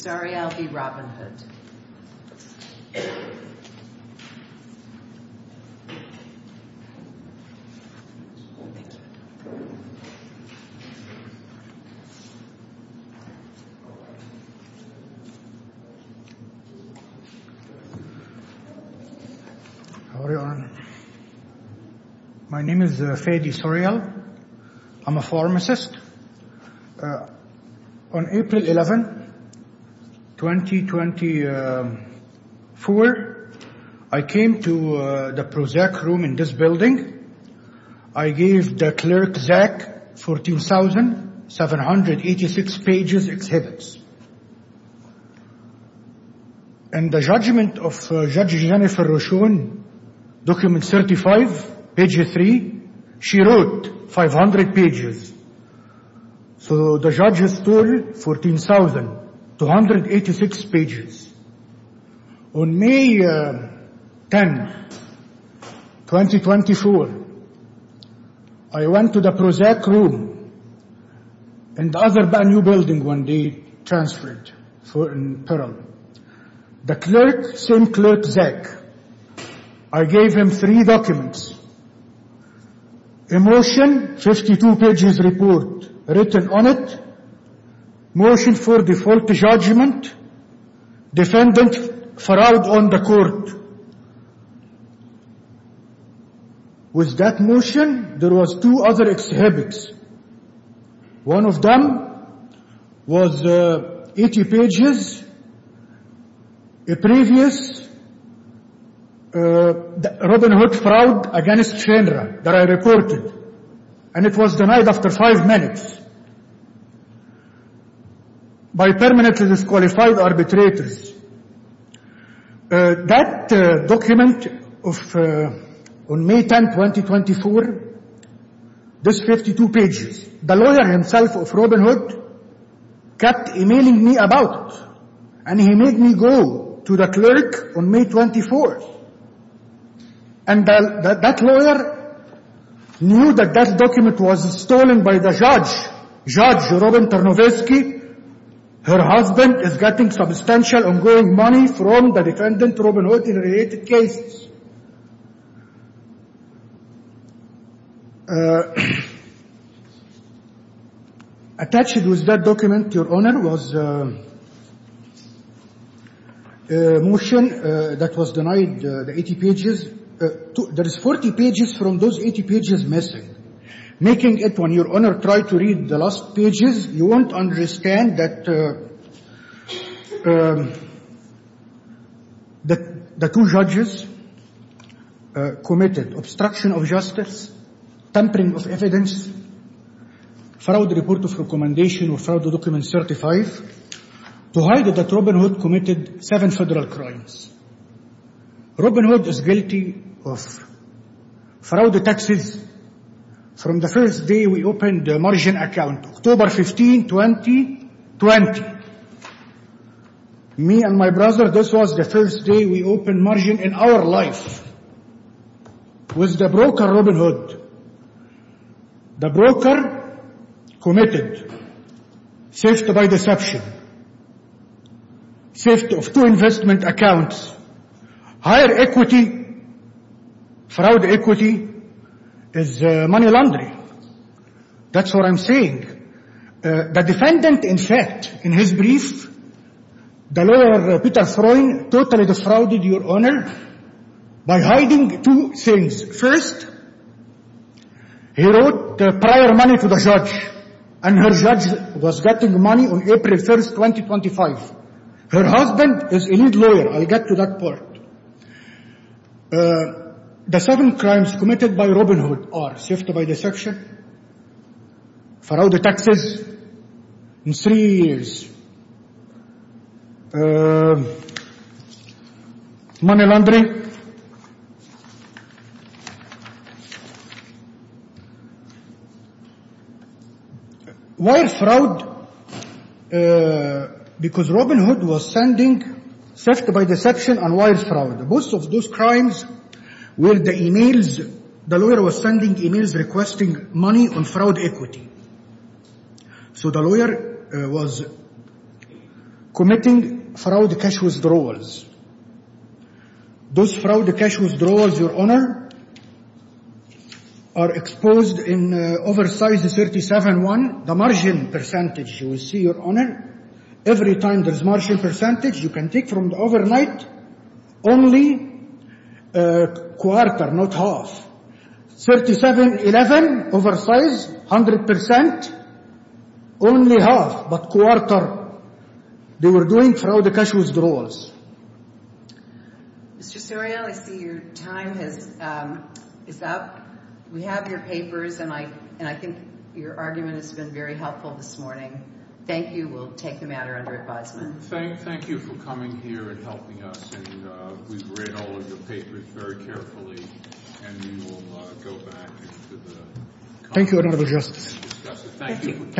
Sorial v. Robinhood My name is Fadi Sorial, I'm a pharmacist. On April 11, 2024, I came to the Prozac room in this building. I gave the clerk, Zach, 14,786 pages exhibits. In the judgment of Judge Jennifer Rochon, document 35, page 3, she wrote 500 pages. So the judges told 14,286 pages. On May 10, 2024, I went to the Prozac room in the other building when they transferred for apparel. The clerk sent clerk Zach. I gave him three documents, a motion, 52 pages report written on it, motion for default judgment, defendant fraud on the court. With that motion, there was two other exhibits. One of them was 80 pages, a previous Robinhood fraud against Shenra that I reported, and it was denied after five minutes. By permanently disqualified arbitrators. That document on May 10, 2024, this 52 pages, the lawyer himself of Robinhood kept emailing me about it, and he made me go to the clerk on May 24. And that lawyer knew that that document was stolen by the judge, Judge Robin Tarnowski. Her husband is getting substantial ongoing money from the defendant Robinhood in related cases. Attached with that document, Your Honor, was a motion that was denied the 80 pages. There is 40 pages from those 80 pages missing. Making it when Your Honor tried to read the last pages, you won't understand that the two judges committed obstruction of justice, tampering of evidence, fraud report of recommendation or fraud document certified to hide that Robinhood committed seven federal crimes. Robinhood is guilty of fraud taxes. From the first day we opened the margin account, October 15, 2020, me and my brother, this was the first day we opened margin in our life with the broker Robinhood. The broker committed theft by deception, theft of two investment accounts. Higher equity, fraud equity, is money laundry. That's what I'm saying. The defendant, in fact, in his brief, the lawyer Peter Throne totally defrauded Your Honor by hiding two things. First, he wrote prior money to the judge, and her judge was getting money on April 1, 2025. Her husband is a legal lawyer. I'll get to that part. The seven crimes committed by Robinhood are theft by deception, fraud of taxes in three years, money laundry. Why fraud? Because Robinhood was sending theft by deception and why fraud? Both of those crimes were the emails. The lawyer was sending emails requesting money on fraud equity. So the lawyer was committing fraud cash withdrawals. Those fraud cash withdrawals, Your Honor, are exposed in oversized 37-1, the margin percentage. You will see, Your Honor, every time there's margin percentage, you can take from the overnight only quarter, not half. 37-11 oversized, 100 percent, only half, but quarter. They were doing fraud cash withdrawals. Mr. Suriel, I see your time is up. We have your papers, and I think your argument has been very helpful this morning. Thank you. We'll take the matter under advisement. Thank you for coming here and helping us, and we've read all of your papers very carefully. And we will go back into the comments to discuss it. Thank you.